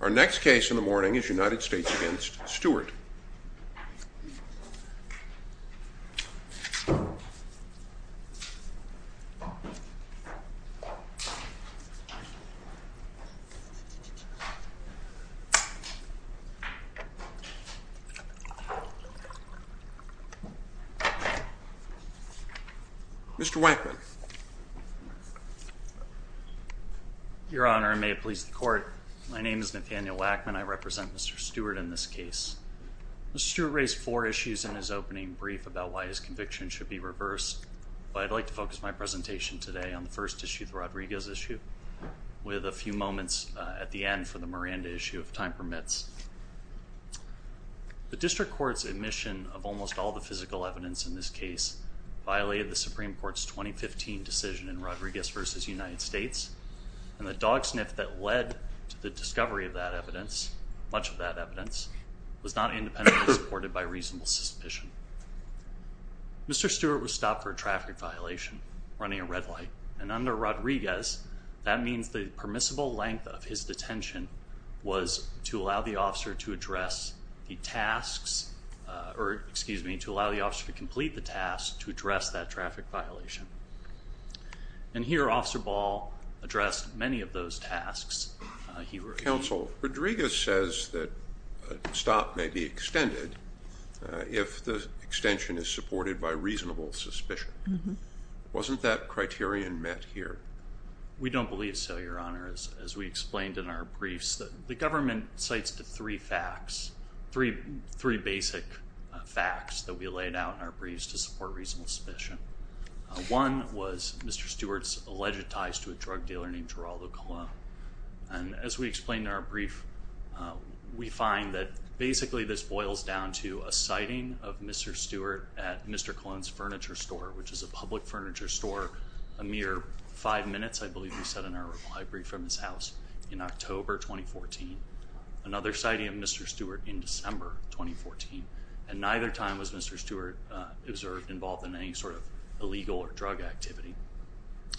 Our next case in the morning is United States v. Stewart. Mr. Wackman. Your Honor, and may it please the Court, my name is Nathaniel Wackman. I represent Mr. Stewart in this case. Mr. Stewart raised four issues in his opening brief about why his conviction should be reversed, but I'd like to focus my presentation today on the first issue, the Rodriguez issue, with a few moments at the end for the Miranda issue, if time permits. The district court's admission of almost all the physical evidence in this case violated the Supreme Court's 2015 decision in Rodriguez v. United States, and the dog sniff that led to the discovery of that evidence, much of that evidence, was not independently supported by reasonable suspicion. Mr. Stewart was stopped for a traffic violation running a red light, and under Rodriguez, that means the permissible length of his detention was to allow the officer to complete the task to address that traffic violation. And here, Officer Ball addressed many of those tasks. Counsel, Rodriguez says that a stop may be extended if the extension is supported by reasonable suspicion. Wasn't that criterion met here? We don't believe so, Your Honor. As we explained in our briefs, the government cites the three facts, three basic facts that we laid out in our briefs to support reasonable suspicion. One was Mr. Stewart's alleged ties to a drug dealer named Geraldo Colon. And as we explained in our brief, we find that basically this boils down to a sighting of Mr. Stewart at Mr. Colon's furniture store, which is a public furniture store a mere five minutes, I believe we said in our brief from his house, in October 2014. Another sighting of Mr. Stewart in December 2014. And neither time was Mr. Stewart observed involved in any sort of illegal or drug activity.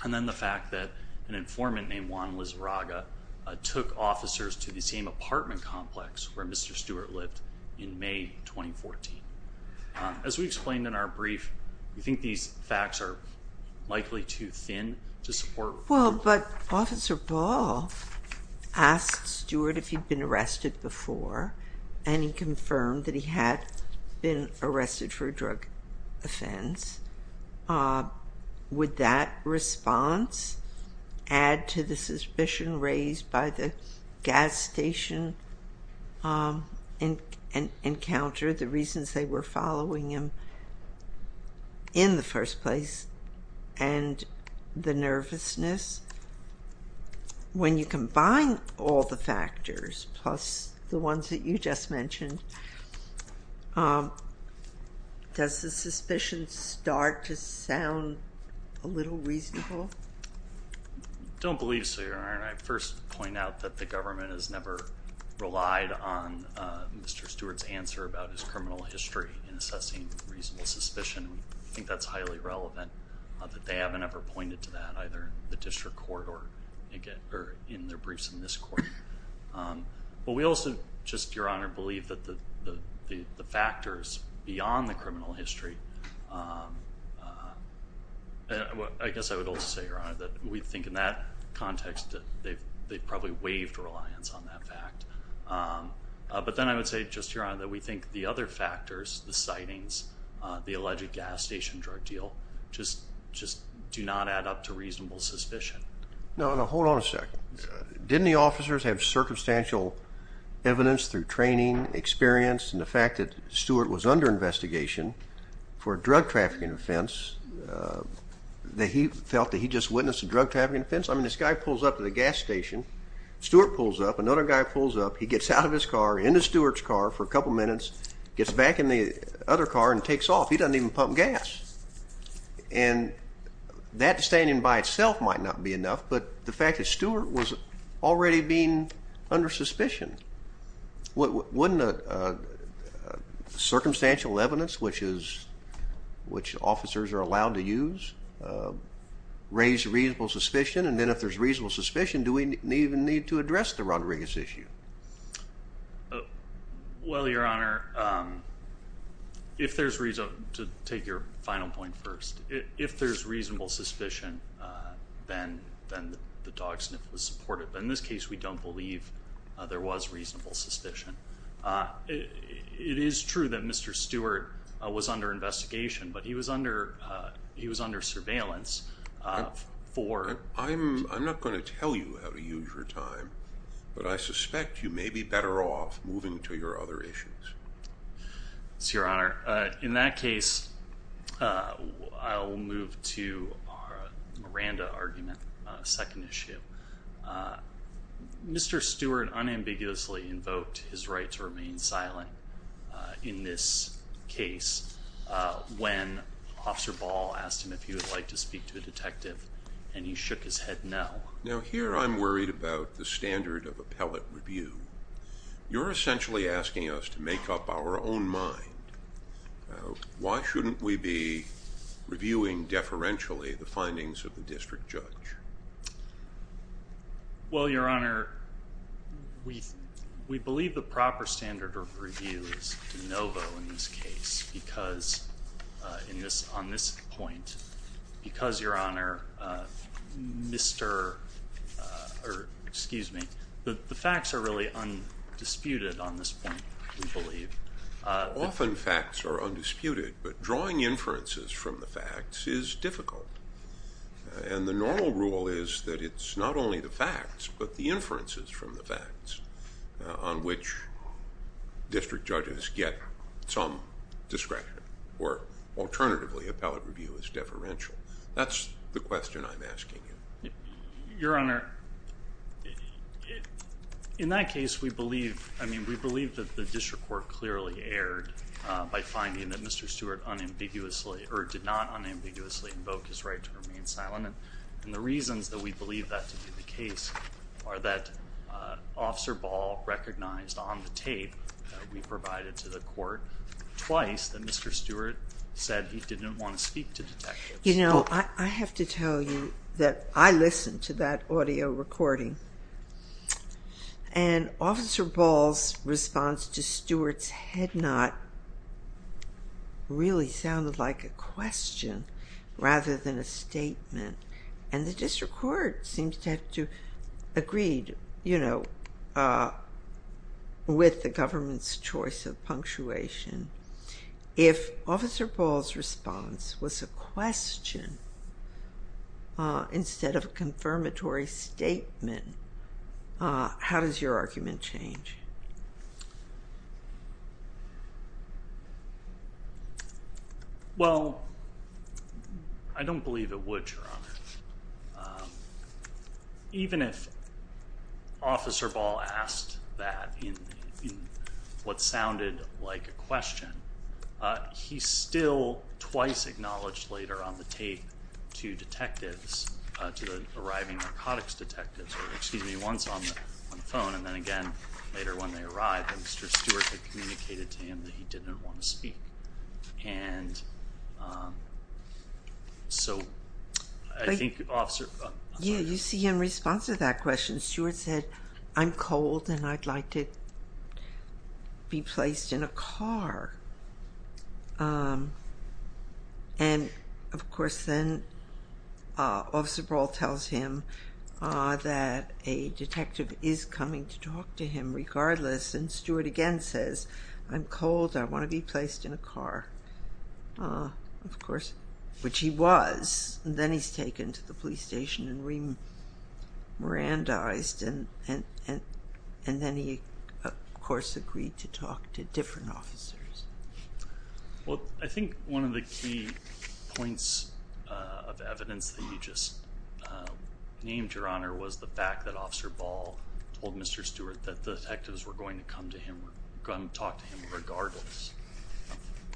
And then the fact that an informant named Juan Liz Raga took officers to the same apartment complex where Mr. Stewart lived in May 2014. As we explained in our brief, we think these facts are likely too thin to support reasonable suspicion. Well, but Officer Ball asked Stewart if he'd been arrested before, and he confirmed that he had been arrested for a drug offense. Would that response add to the suspicion raised by the gas station encounter, the reasons they were following him in the first place, and the nervousness? When you combine all the factors, plus the ones that you just mentioned, does the suspicion start to sound a little reasonable? I don't believe so, Your Honor. I first point out that the government has never relied on Mr. Stewart's answer about his criminal history in assessing reasonable suspicion. I think that's highly relevant that they haven't ever pointed to that, either in the district court or in their briefs in this court. But we also just, Your Honor, believe that the factors beyond the criminal history, I guess I would also say, Your Honor, that we think in that context that they've probably waived reliance on that fact. But then I would say just, Your Honor, that we think the other factors, the sightings, the alleged gas station drug deal, just do not add up to reasonable suspicion. Now, hold on a second. Didn't the officers have circumstantial evidence through training, experience, and the fact that Stewart was under investigation for a drug trafficking offense, that he felt that he just witnessed a drug trafficking offense? I mean, this guy pulls up to the gas station. Stewart pulls up. Another guy pulls up. He gets out of his car, into Stewart's car for a couple minutes, gets back in the other car and takes off. He doesn't even pump gas. And that standing by itself might not be enough, but the fact that Stewart was already being under suspicion, wouldn't circumstantial evidence, which officers are allowed to use, raise reasonable suspicion? And then if there's reasonable suspicion, do we even need to address the Rodriguez issue? Well, Your Honor, to take your final point first, if there's reasonable suspicion, then the dog sniff was supported. In this case, we don't believe there was reasonable suspicion. It is true that Mr. Stewart was under investigation, but he was under surveillance for. I'm not going to tell you how to use your time, but I suspect you may be better off moving to your other issues. Yes, Your Honor. In that case, I'll move to our Miranda argument, second issue. Mr. Stewart unambiguously invoked his right to remain silent in this case when Officer Ball asked him if he would like to speak to a detective, and he shook his head no. Now, here I'm worried about the standard of appellate review. You're essentially asking us to make up our own mind. Why shouldn't we be reviewing deferentially the findings of the district judge? Well, Your Honor, we believe the proper standard of review is de novo in this case on this point because, Your Honor, the facts are really undisputed on this point, we believe. Often facts are undisputed, but drawing inferences from the facts is difficult, and the normal rule is that it's not only the facts but the inferences from the facts on which district judges get some discretion, or alternatively, appellate review is deferential. That's the question I'm asking you. Your Honor, in that case, we believe that the district court clearly erred by finding that Mr. Stewart did not unambiguously invoke his right to remain silent, and the reasons that we believe that to be the case are that Officer Ball recognized on the tape that we provided to the court twice that Mr. Stewart said he didn't want to speak to detectives. You know, I have to tell you that I listened to that audio recording, and Officer Ball's response to Stewart's head nod really sounded like a question rather than a statement, and the district court seems to have agreed, you know, with the government's choice of punctuation. If Officer Ball's response was a question instead of a confirmatory statement, how does your argument change? Well, I don't believe it would, Your Honor. Even if Officer Ball asked that in what sounded like a question, he still twice acknowledged later on the tape to detectives, to the arriving narcotics detectives, or excuse me, once on the phone, and then again later when they arrived that Mr. Stewart had communicated to him that he didn't want to speak. And so I think Officer... Yeah, you see in response to that question, Stewart said, I'm cold and I'd like to be placed in a car. And, of course, then Officer Ball tells him that a detective is coming to talk to him regardless, and Stewart again says, I'm cold, I want to be placed in a car. Of course, which he was, and then he's taken to the police station and remirandized, and then he, of course, agreed to talk to different officers. Well, I think one of the key points of evidence that you just named, Your Honor, was the fact that Officer Ball told Mr. Stewart that detectives were going to come to him, talk to him regardless.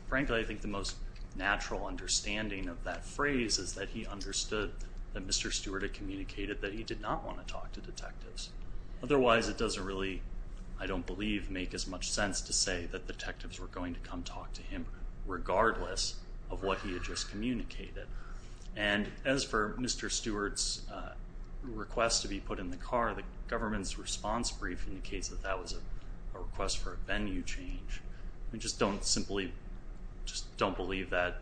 Frankly, I think the most natural understanding of that phrase is that he understood that Mr. Stewart had communicated that he did not want to talk to detectives. Otherwise, it doesn't really, I don't believe, make as much sense to say that detectives were going to come talk to him regardless of what he had just communicated. And as for Mr. Stewart's request to be put in the car, the government's response brief indicates that that was a request for a venue change. We just don't simply, just don't believe that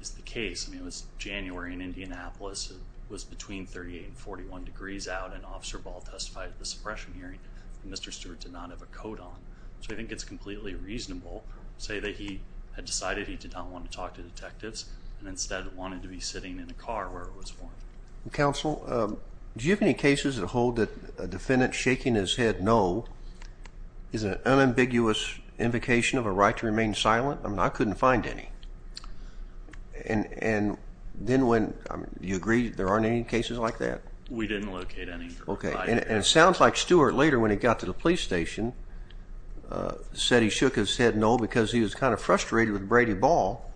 is the case. I mean, it was January in Indianapolis. It was between 38 and 41 degrees out, and Officer Ball testified at the suppression hearing that Mr. Stewart did not have a coat on. So I think it's completely reasonable to say that he had decided he did not want to talk to detectives and instead wanted to be sitting in a car where it was warm. Counsel, do you have any cases that hold that a defendant shaking his head no is an unambiguous invocation of a right to remain silent? I mean, I couldn't find any. And then when, you agree there aren't any cases like that? We didn't locate any. Okay, and it sounds like Stewart later, when he got to the police station, said he shook his head no because he was kind of frustrated with Brady Ball,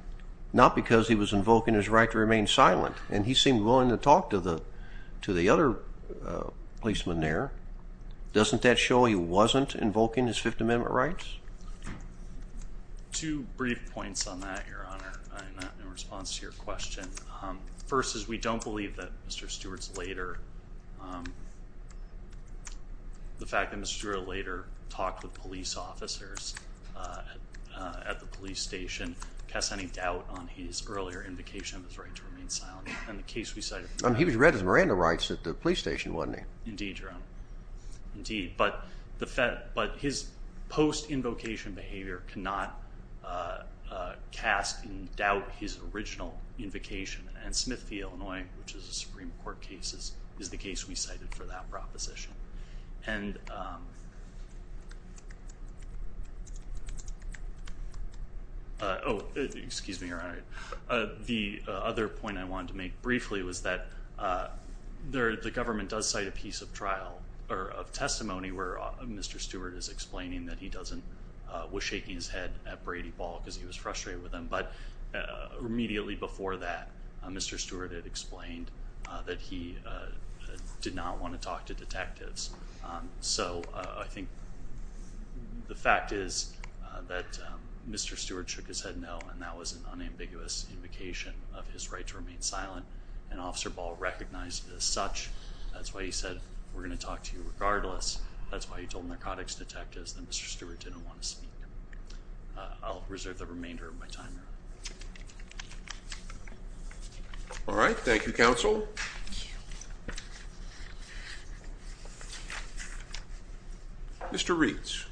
not because he was invoking his right to remain silent. And he seemed willing to talk to the other policeman there. Doesn't that show he wasn't invoking his Fifth Amendment rights? Two brief points on that, Your Honor, in response to your question. First is we don't believe that Mr. Stewart's later, the fact that Mr. Stewart later talked with police officers at the police station, casts any doubt on his earlier invocation of his right to remain silent. He was read as Miranda rights at the police station, wasn't he? Indeed, Your Honor, indeed. But his post-invocation behavior cannot cast in doubt his original invocation. And Smith v. Illinois, which is a Supreme Court case, is the case we cited for that proposition. Oh, excuse me, Your Honor. The other point I wanted to make briefly was that the government does cite a piece of trial or of testimony where Mr. Stewart is explaining that he doesn't, was shaking his head at Brady Ball because he was frustrated with him. But immediately before that, Mr. Stewart had explained that he did not want to talk to detectives. So I think the fact is that Mr. Stewart shook his head no, and that was an unambiguous invocation of his right to remain silent. And Officer Ball recognized it as such. That's why he said, we're going to talk to you regardless. That's why he told narcotics detectives that Mr. Stewart didn't want to speak. I'll reserve the remainder of my time. All right. Thank you, counsel. Mr. Reitz.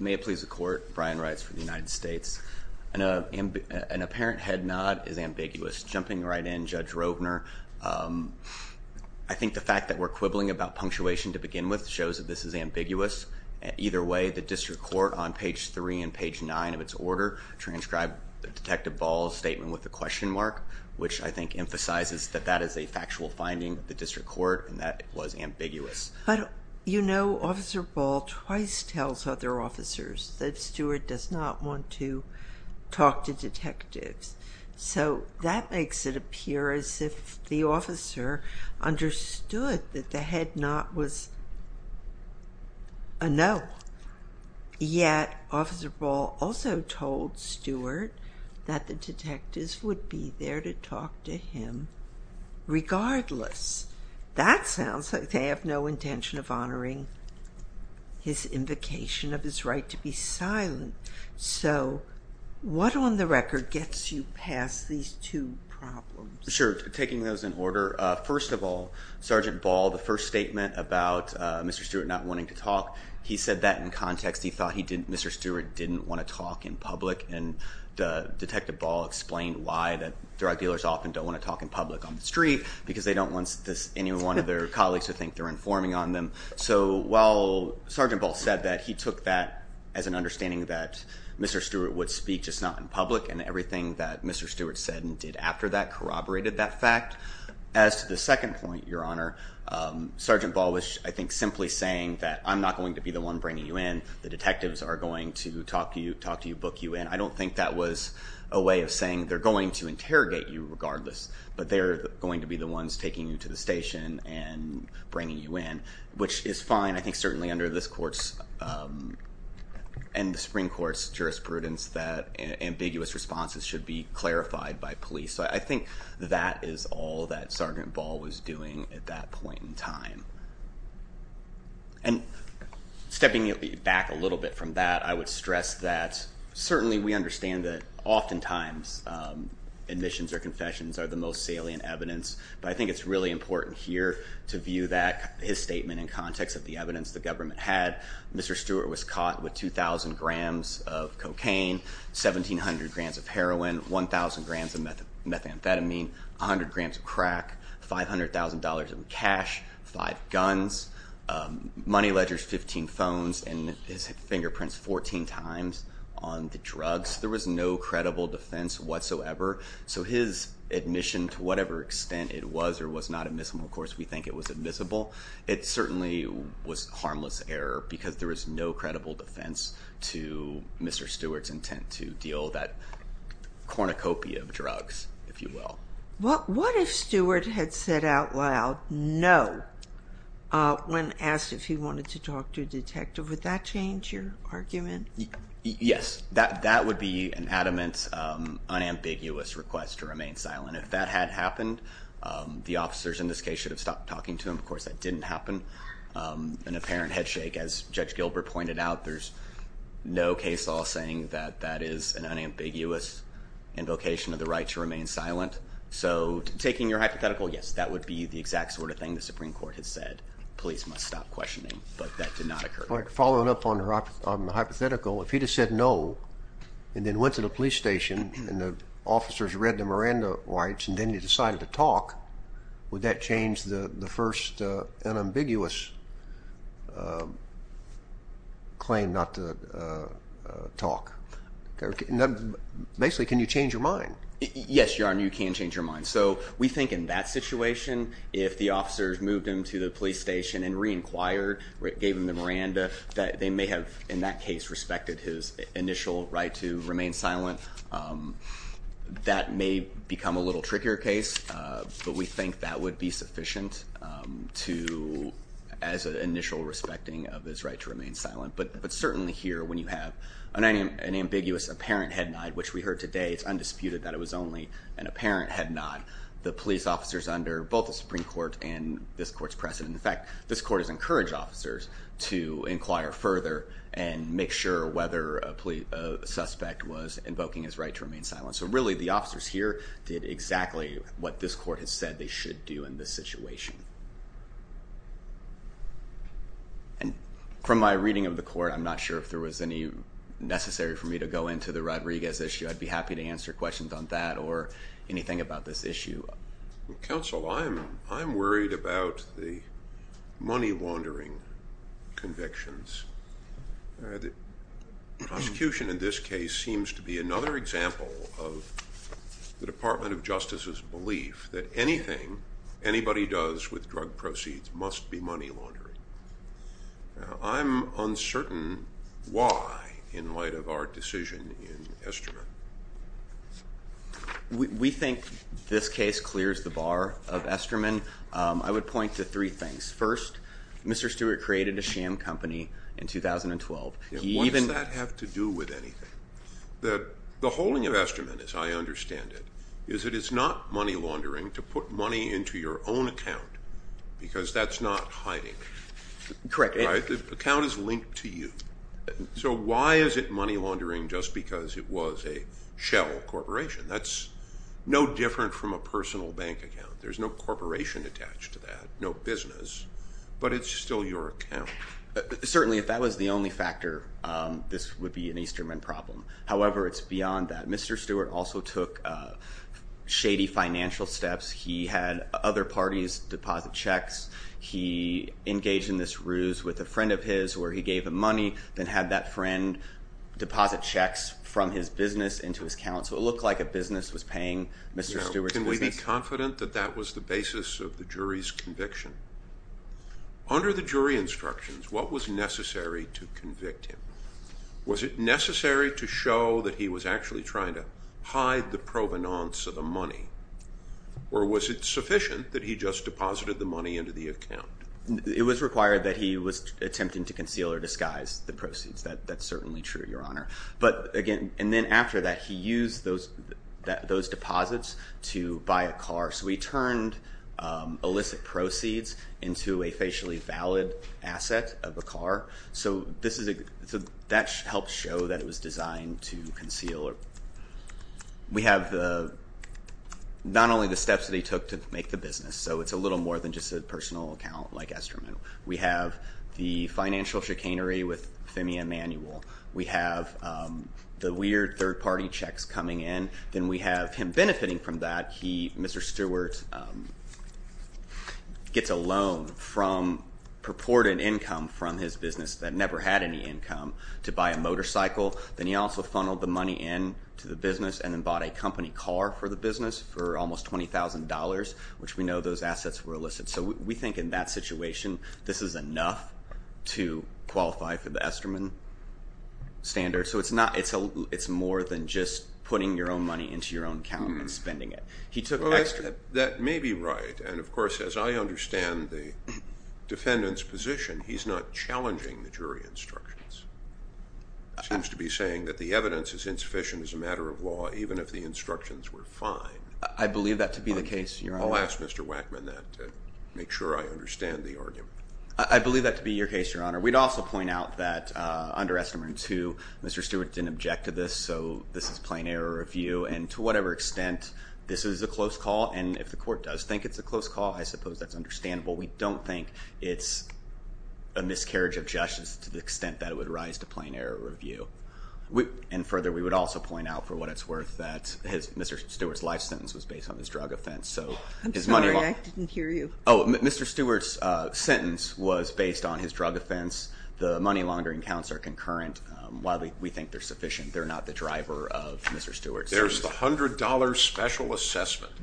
May it please the court, Brian Reitz for the United States. An apparent head nod is ambiguous. Just jumping right in, Judge Rovner, I think the fact that we're quibbling about punctuation to begin with shows that this is ambiguous. Either way, the district court on page 3 and page 9 of its order transcribed Detective Ball's statement with a question mark, which I think emphasizes that that is a factual finding of the district court and that it was ambiguous. But, you know, Officer Ball twice tells other officers that Stewart does not want to talk to detectives. So that makes it appear as if the officer understood that the head nod was a no. Yet Officer Ball also told Stewart that the detectives would be there to talk to him regardless. That sounds like they have no intention of honoring his invocation of his right to be silent. So what on the record gets you past these two problems? Sure, taking those in order. First of all, Sergeant Ball, the first statement about Mr. Stewart not wanting to talk, he said that in context. He thought Mr. Stewart didn't want to talk in public and Detective Ball explained why that drug dealers often don't want to talk in public on the street, because they don't want any one of their colleagues to think they're informing on them. So while Sergeant Ball said that, he took that as an understanding that Mr. Stewart would speak, just not in public, and everything that Mr. Stewart said and did after that corroborated that fact. As to the second point, Your Honor, Sergeant Ball was, I think, simply saying that I'm not going to be the one bringing you in, the detectives are going to talk to you, book you in. I don't think that was a way of saying they're going to interrogate you regardless, but they're going to be the ones taking you to the station and bringing you in, which is fine. I think certainly under this Court's and the Supreme Court's jurisprudence that ambiguous responses should be clarified by police. So I think that is all that Sergeant Ball was doing at that point in time. And stepping back a little bit from that, I would stress that certainly we understand that oftentimes admissions or confessions are the most salient evidence, but I think it's really important here to view that, his statement in context of the evidence the government had. Mr. Stewart was caught with 2,000 grams of cocaine, 1,700 grams of heroin, 1,000 grams of methamphetamine, 100 grams of crack, $500,000 in cash, five guns, money ledgers, 15 phones, and his fingerprints 14 times on the drugs. There was no credible defense whatsoever. So his admission, to whatever extent it was or was not admissible, of course, we think it was admissible. It certainly was harmless error because there was no credible defense to Mr. Stewart's intent to deal that cornucopia of drugs, if you will. What if Stewart had said out loud no when asked if he wanted to talk to a detective? Would that change your argument? Yes. That would be an adamant, unambiguous request to remain silent. If that had happened, the officers in this case should have stopped talking to him. Of course, that didn't happen. An apparent head shake, as Judge Gilbert pointed out, there's no case law saying that that is an unambiguous invocation of the right to remain silent. So taking your hypothetical, yes, that would be the exact sort of thing the Supreme Court had said. Police must stop questioning, but that did not occur. Following up on the hypothetical, if he had said no and then went to the police station and the officers read the Miranda rights and then he decided to talk, would that change the first unambiguous claim not to talk? Basically, can you change your mind? Yes, Your Honor, you can change your mind. We think in that situation, if the officers moved him to the police station and re-inquired, gave him the Miranda, that they may have, in that case, respected his initial right to remain silent. That may become a little trickier case, but we think that would be sufficient as an initial respecting of his right to remain silent. But certainly here, when you have an ambiguous apparent head nod, which we heard today, it's undisputed that it was only an apparent head nod. The police officers under both the Supreme Court and this Court's precedent, in fact, this Court has encouraged officers to inquire further and make sure whether a suspect was invoking his right to remain silent. So really, the officers here did exactly what this Court has said they should do in this situation. And from my reading of the Court, I'm not sure if there was any necessary for me to go into the Rodriguez issue. I'd be happy to answer questions on that or anything about this issue. Counsel, I'm worried about the money laundering convictions. The prosecution in this case seems to be another example of the Department of Justice's belief that anything anybody does with drug proceeds must be money laundering. I'm uncertain why, in light of our decision in Esterman. We think this case clears the bar of Esterman. I would point to three things. First, Mr. Stewart created a sham company in 2012. What does that have to do with anything? The holding of Esterman, as I understand it, is it is not money laundering to put money into your own account because that's not hiding. Correct. The account is linked to you. So why is it money laundering just because it was a shell corporation? That's no different from a personal bank account. There's no corporation attached to that, no business, but it's still your account. Certainly, if that was the only factor, this would be an Esterman problem. However, it's beyond that. Mr. Stewart also took shady financial steps. He had other parties deposit checks. He engaged in this ruse with a friend of his where he gave him money. Then had that friend deposit checks from his business into his account. So it looked like a business was paying Mr. Stewart's business. Can we be confident that that was the basis of the jury's conviction? Under the jury instructions, what was necessary to convict him? Was it necessary to show that he was actually trying to hide the provenance of the money? Or was it sufficient that he just deposited the money into the account? It was required that he was attempting to conceal or disguise the proceeds. That's certainly true, Your Honor. And then after that, he used those deposits to buy a car. So he turned illicit proceeds into a facially valid asset of a car. So that helps show that it was designed to conceal. We have not only the steps that he took to make the business, so it's a little more than just a personal account like Esterman. We have the financial chicanery with Femi Emanuel. We have the weird third-party checks coming in. Then we have him benefiting from that. Mr. Stewart gets a loan from purported income from his business that never had any income to buy a motorcycle. Then he also funneled the money into the business and then bought a company car for the business for almost $20,000, which we know those assets were illicit. So we think in that situation, this is enough to qualify for the Esterman standard. So it's more than just putting your own money into your own account and spending it. That may be right. And, of course, as I understand the defendant's position, he's not challenging the jury instructions. He seems to be saying that the evidence is insufficient as a matter of law, even if the instructions were fine. I believe that to be the case, Your Honor. I'll ask Mr. Wackman that to make sure I understand the argument. I believe that to be your case, Your Honor. We'd also point out that under Esterman 2, Mr. Stewart didn't object to this, so this is plain error review. And to whatever extent this is a close call, and if the court does think it's a close call, I suppose that's understandable. We don't think it's a miscarriage of justice to the extent that it would rise to plain error review. And further, we would also point out, for what it's worth, that Mr. Stewart's life sentence was based on his drug offense. I'm sorry, I didn't hear you. Oh, Mr. Stewart's sentence was based on his drug offense. The money laundering counts are concurrent. While we think they're sufficient, they're not the driver of Mr. Stewart's. There's the $100 special assessment.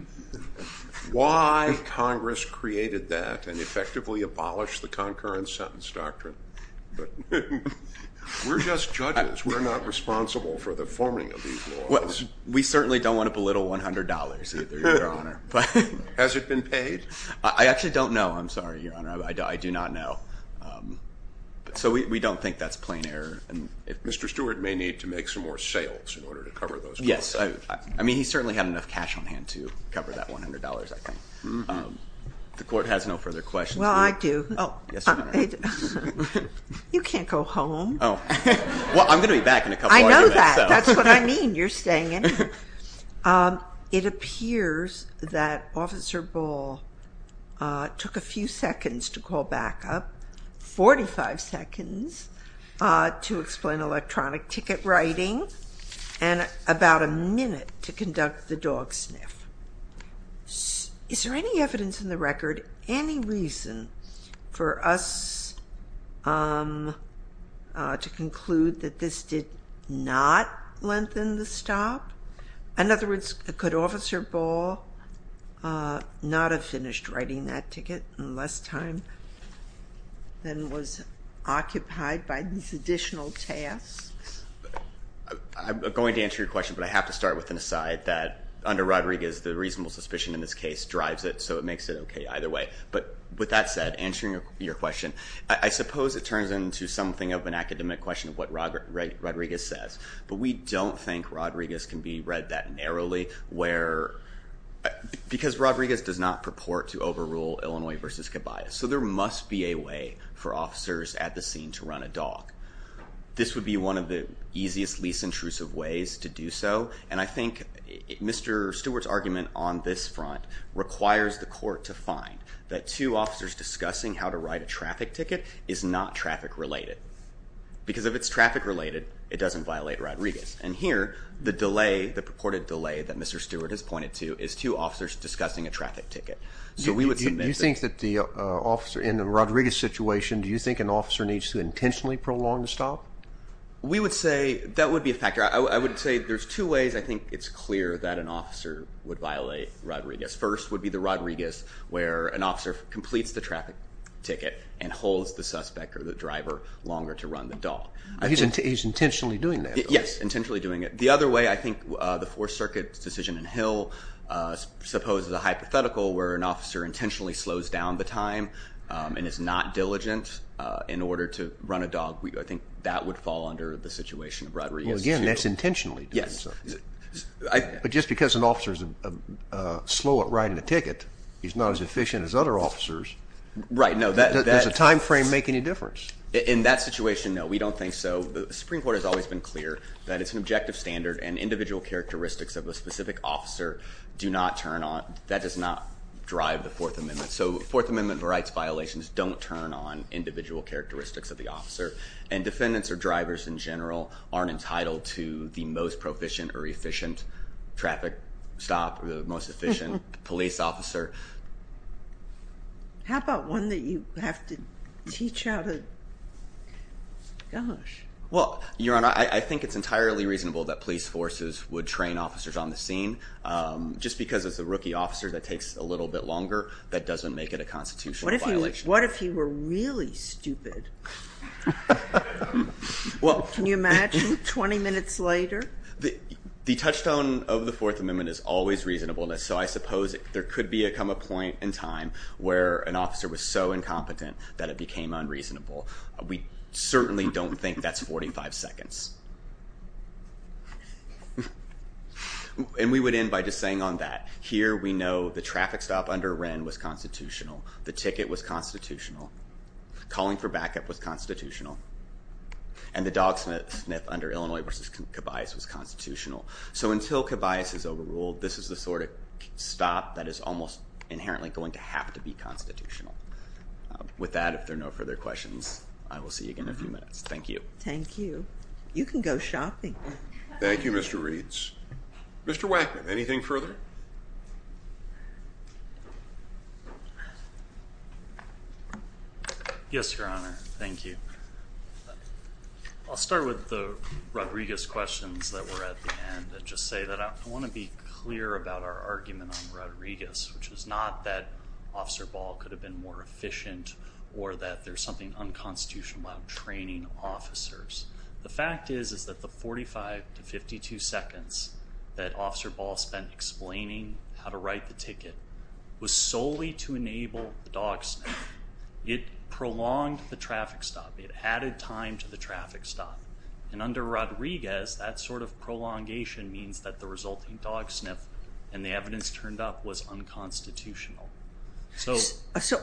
Why Congress created that and effectively abolished the concurrent sentence doctrine? We're just judges. We're not responsible for the forming of these laws. We certainly don't want to belittle $100 either, Your Honor. Has it been paid? I actually don't know. I'm sorry, Your Honor. I do not know. So we don't think that's plain error. Mr. Stewart may need to make some more sales in order to cover those costs. Yes. I mean, he certainly had enough cash on hand to cover that $100, I think. The court has no further questions. Well, I do. Oh, yes, Your Honor. You can't go home. Well, I'm going to be back in a couple hours. I know that. That's what I mean. You're staying in. It appears that Officer Ball took a few seconds to call back up, 45 seconds to explain electronic ticket writing, and about a minute to conduct the dog sniff. Is there any evidence in the record, any reason for us to conclude that this did not lengthen the stop? In other words, could Officer Ball not have finished writing that ticket in less time than was occupied by these additional tasks? I'm going to answer your question, but I have to start with an aside that, under Rodriguez, the reasonable suspicion in this case drives it, so it makes it okay either way. But with that said, answering your question, I suppose it turns into something of an academic question of what Rodriguez says, but we don't think Rodriguez can be read that narrowly, because Rodriguez does not purport to overrule Illinois v. Cabayas. So there must be a way for officers at the scene to run a dog. This would be one of the easiest, least intrusive ways to do so, and I think Mr. Stewart's argument on this front requires the court to find that two officers discussing how to write a traffic ticket is not traffic related, because if it's traffic related, it doesn't violate Rodriguez. And here, the delay, the purported delay that Mr. Stewart has pointed to, is two officers discussing a traffic ticket. Do you think that the officer in the Rodriguez situation, do you think an officer needs to intentionally prolong the stop? We would say that would be a factor. I would say there's two ways I think it's clear that an officer would violate Rodriguez. First would be the Rodriguez where an officer completes the traffic ticket and holds the suspect or the driver longer to run the dog. He's intentionally doing that. Yes, intentionally doing it. The other way I think the Fourth Circuit's decision in Hill supposes a hypothetical where an officer intentionally slows down the time and is not diligent in order to run a dog. I think that would fall under the situation of Rodriguez. Again, that's intentionally doing so. Yes. But just because an officer's slow at writing a ticket, he's not as efficient as other officers. Right, no. Does the time frame make any difference? In that situation, no, we don't think so. The Supreme Court has always been clear that it's an objective standard and individual characteristics of a specific officer do not turn on, that does not drive the Fourth Amendment. So Fourth Amendment rights violations don't turn on individual characteristics of the officer, and defendants or drivers in general aren't entitled to the most proficient or efficient traffic stop or the most efficient police officer. How about one that you have to teach how to, gosh. Well, Your Honor, I think it's entirely reasonable that police forces would train officers on the scene. Just because it's a rookie officer that takes a little bit longer, that doesn't make it a constitutional violation. What if he were really stupid? Can you imagine 20 minutes later? The touchstone of the Fourth Amendment is always reasonableness. So I suppose there could come a point in time where an officer was so incompetent that it became unreasonable. We certainly don't think that's 45 seconds. And we would end by just saying on that, here we know the traffic stop under Wren was constitutional. The ticket was constitutional. Calling for backup was constitutional. And the dog sniff under Illinois versus Cabias was constitutional. So until Cabias is overruled, this is the sort of stop that is almost inherently going to have to be constitutional. With that, if there are no further questions, I will see you again in a few minutes. Thank you. Thank you. You can go shopping. Thank you, Mr. Reeds. Mr. Wackman, anything further? Yes, Your Honor. Thank you. I'll start with the Rodriguez questions that were at the end and just say that I want to be clear about our argument on Rodriguez, which is not that Officer Ball could have been more efficient or that there's something unconstitutional about training officers. The fact is, is that the 45 to 52 seconds that Officer Ball spent explaining how to write the ticket was solely to enable the dog sniff. It prolonged the traffic stop. It added time to the traffic stop. And under Rodriguez, that sort of prolongation means that the resulting dog sniff and the evidence turned up was unconstitutional. So,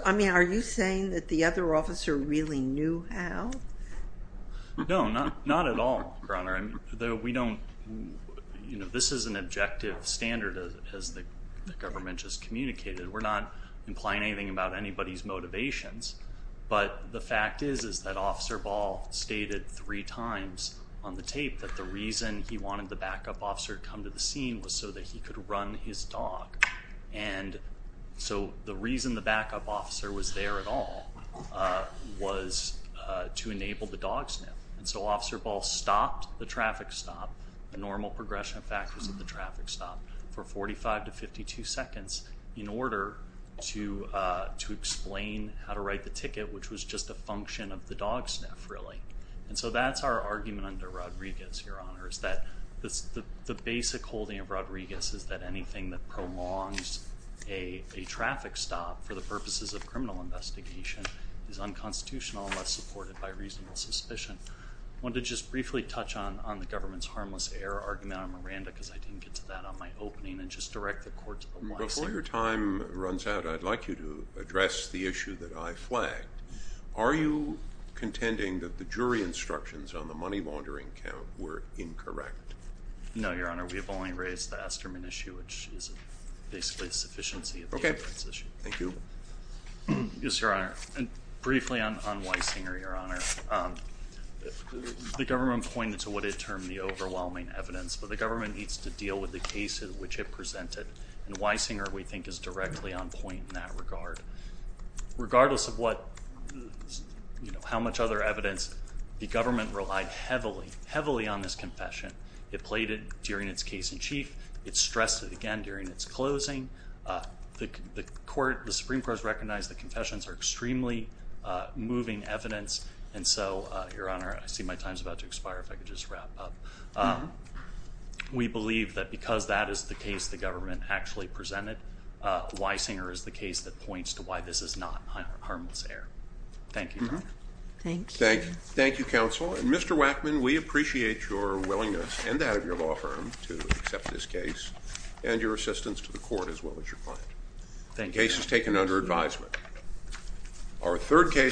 I mean, are you saying that the other officer really knew how? No, not at all, Your Honor. We don't, you know, this is an objective standard as the government just communicated. We're not implying anything about anybody's motivations. But the fact is, is that Officer Ball stated three times on the tape that the reason he wanted the backup officer to come to the scene was so that he could run his dog. And so the reason the backup officer was there at all was to enable the dog sniff. And so Officer Ball stopped the traffic stop, the normal progression factors of the traffic stop, for 45 to 52 seconds in order to explain how to write the ticket, which was just a function of the dog sniff, really. And so that's our argument under Rodriguez, Your Honor, is that the basic holding of Rodriguez is that anything that prolongs a traffic stop for the purposes of criminal investigation is unconstitutional unless supported by reasonable suspicion. I wanted to just briefly touch on the government's harmless error argument on Miranda, because I didn't get to that on my opening, and just direct the court to the one. Before your time runs out, I'd like you to address the issue that I flagged. Are you contending that the jury instructions on the money laundering count were incorrect? No, Your Honor. We have only raised the Esterman issue, which is basically a sufficiency of the inference issue. Okay. Thank you. Yes, Your Honor. And briefly on Weisinger, Your Honor, the government pointed to what it termed the overwhelming evidence, but the government needs to deal with the cases which it presented. And Weisinger, we think, is directly on point in that regard. Regardless of how much other evidence, the government relied heavily, heavily on this confession. It played it during its case in chief. It stressed it again during its closing. The Supreme Court has recognized that confessions are extremely moving evidence, and so, Your Honor, I see my time is about to expire if I could just wrap up. We believe that because that is the case the government actually presented, Weisinger is the case that points to why this is not harmless error. Thank you, Your Honor. Thank you. Thank you, counsel. And Mr. Wackman, we appreciate your willingness and that of your law firm to accept this case and your assistance to the court as well as your client. Thank you. The case is taken under advisement.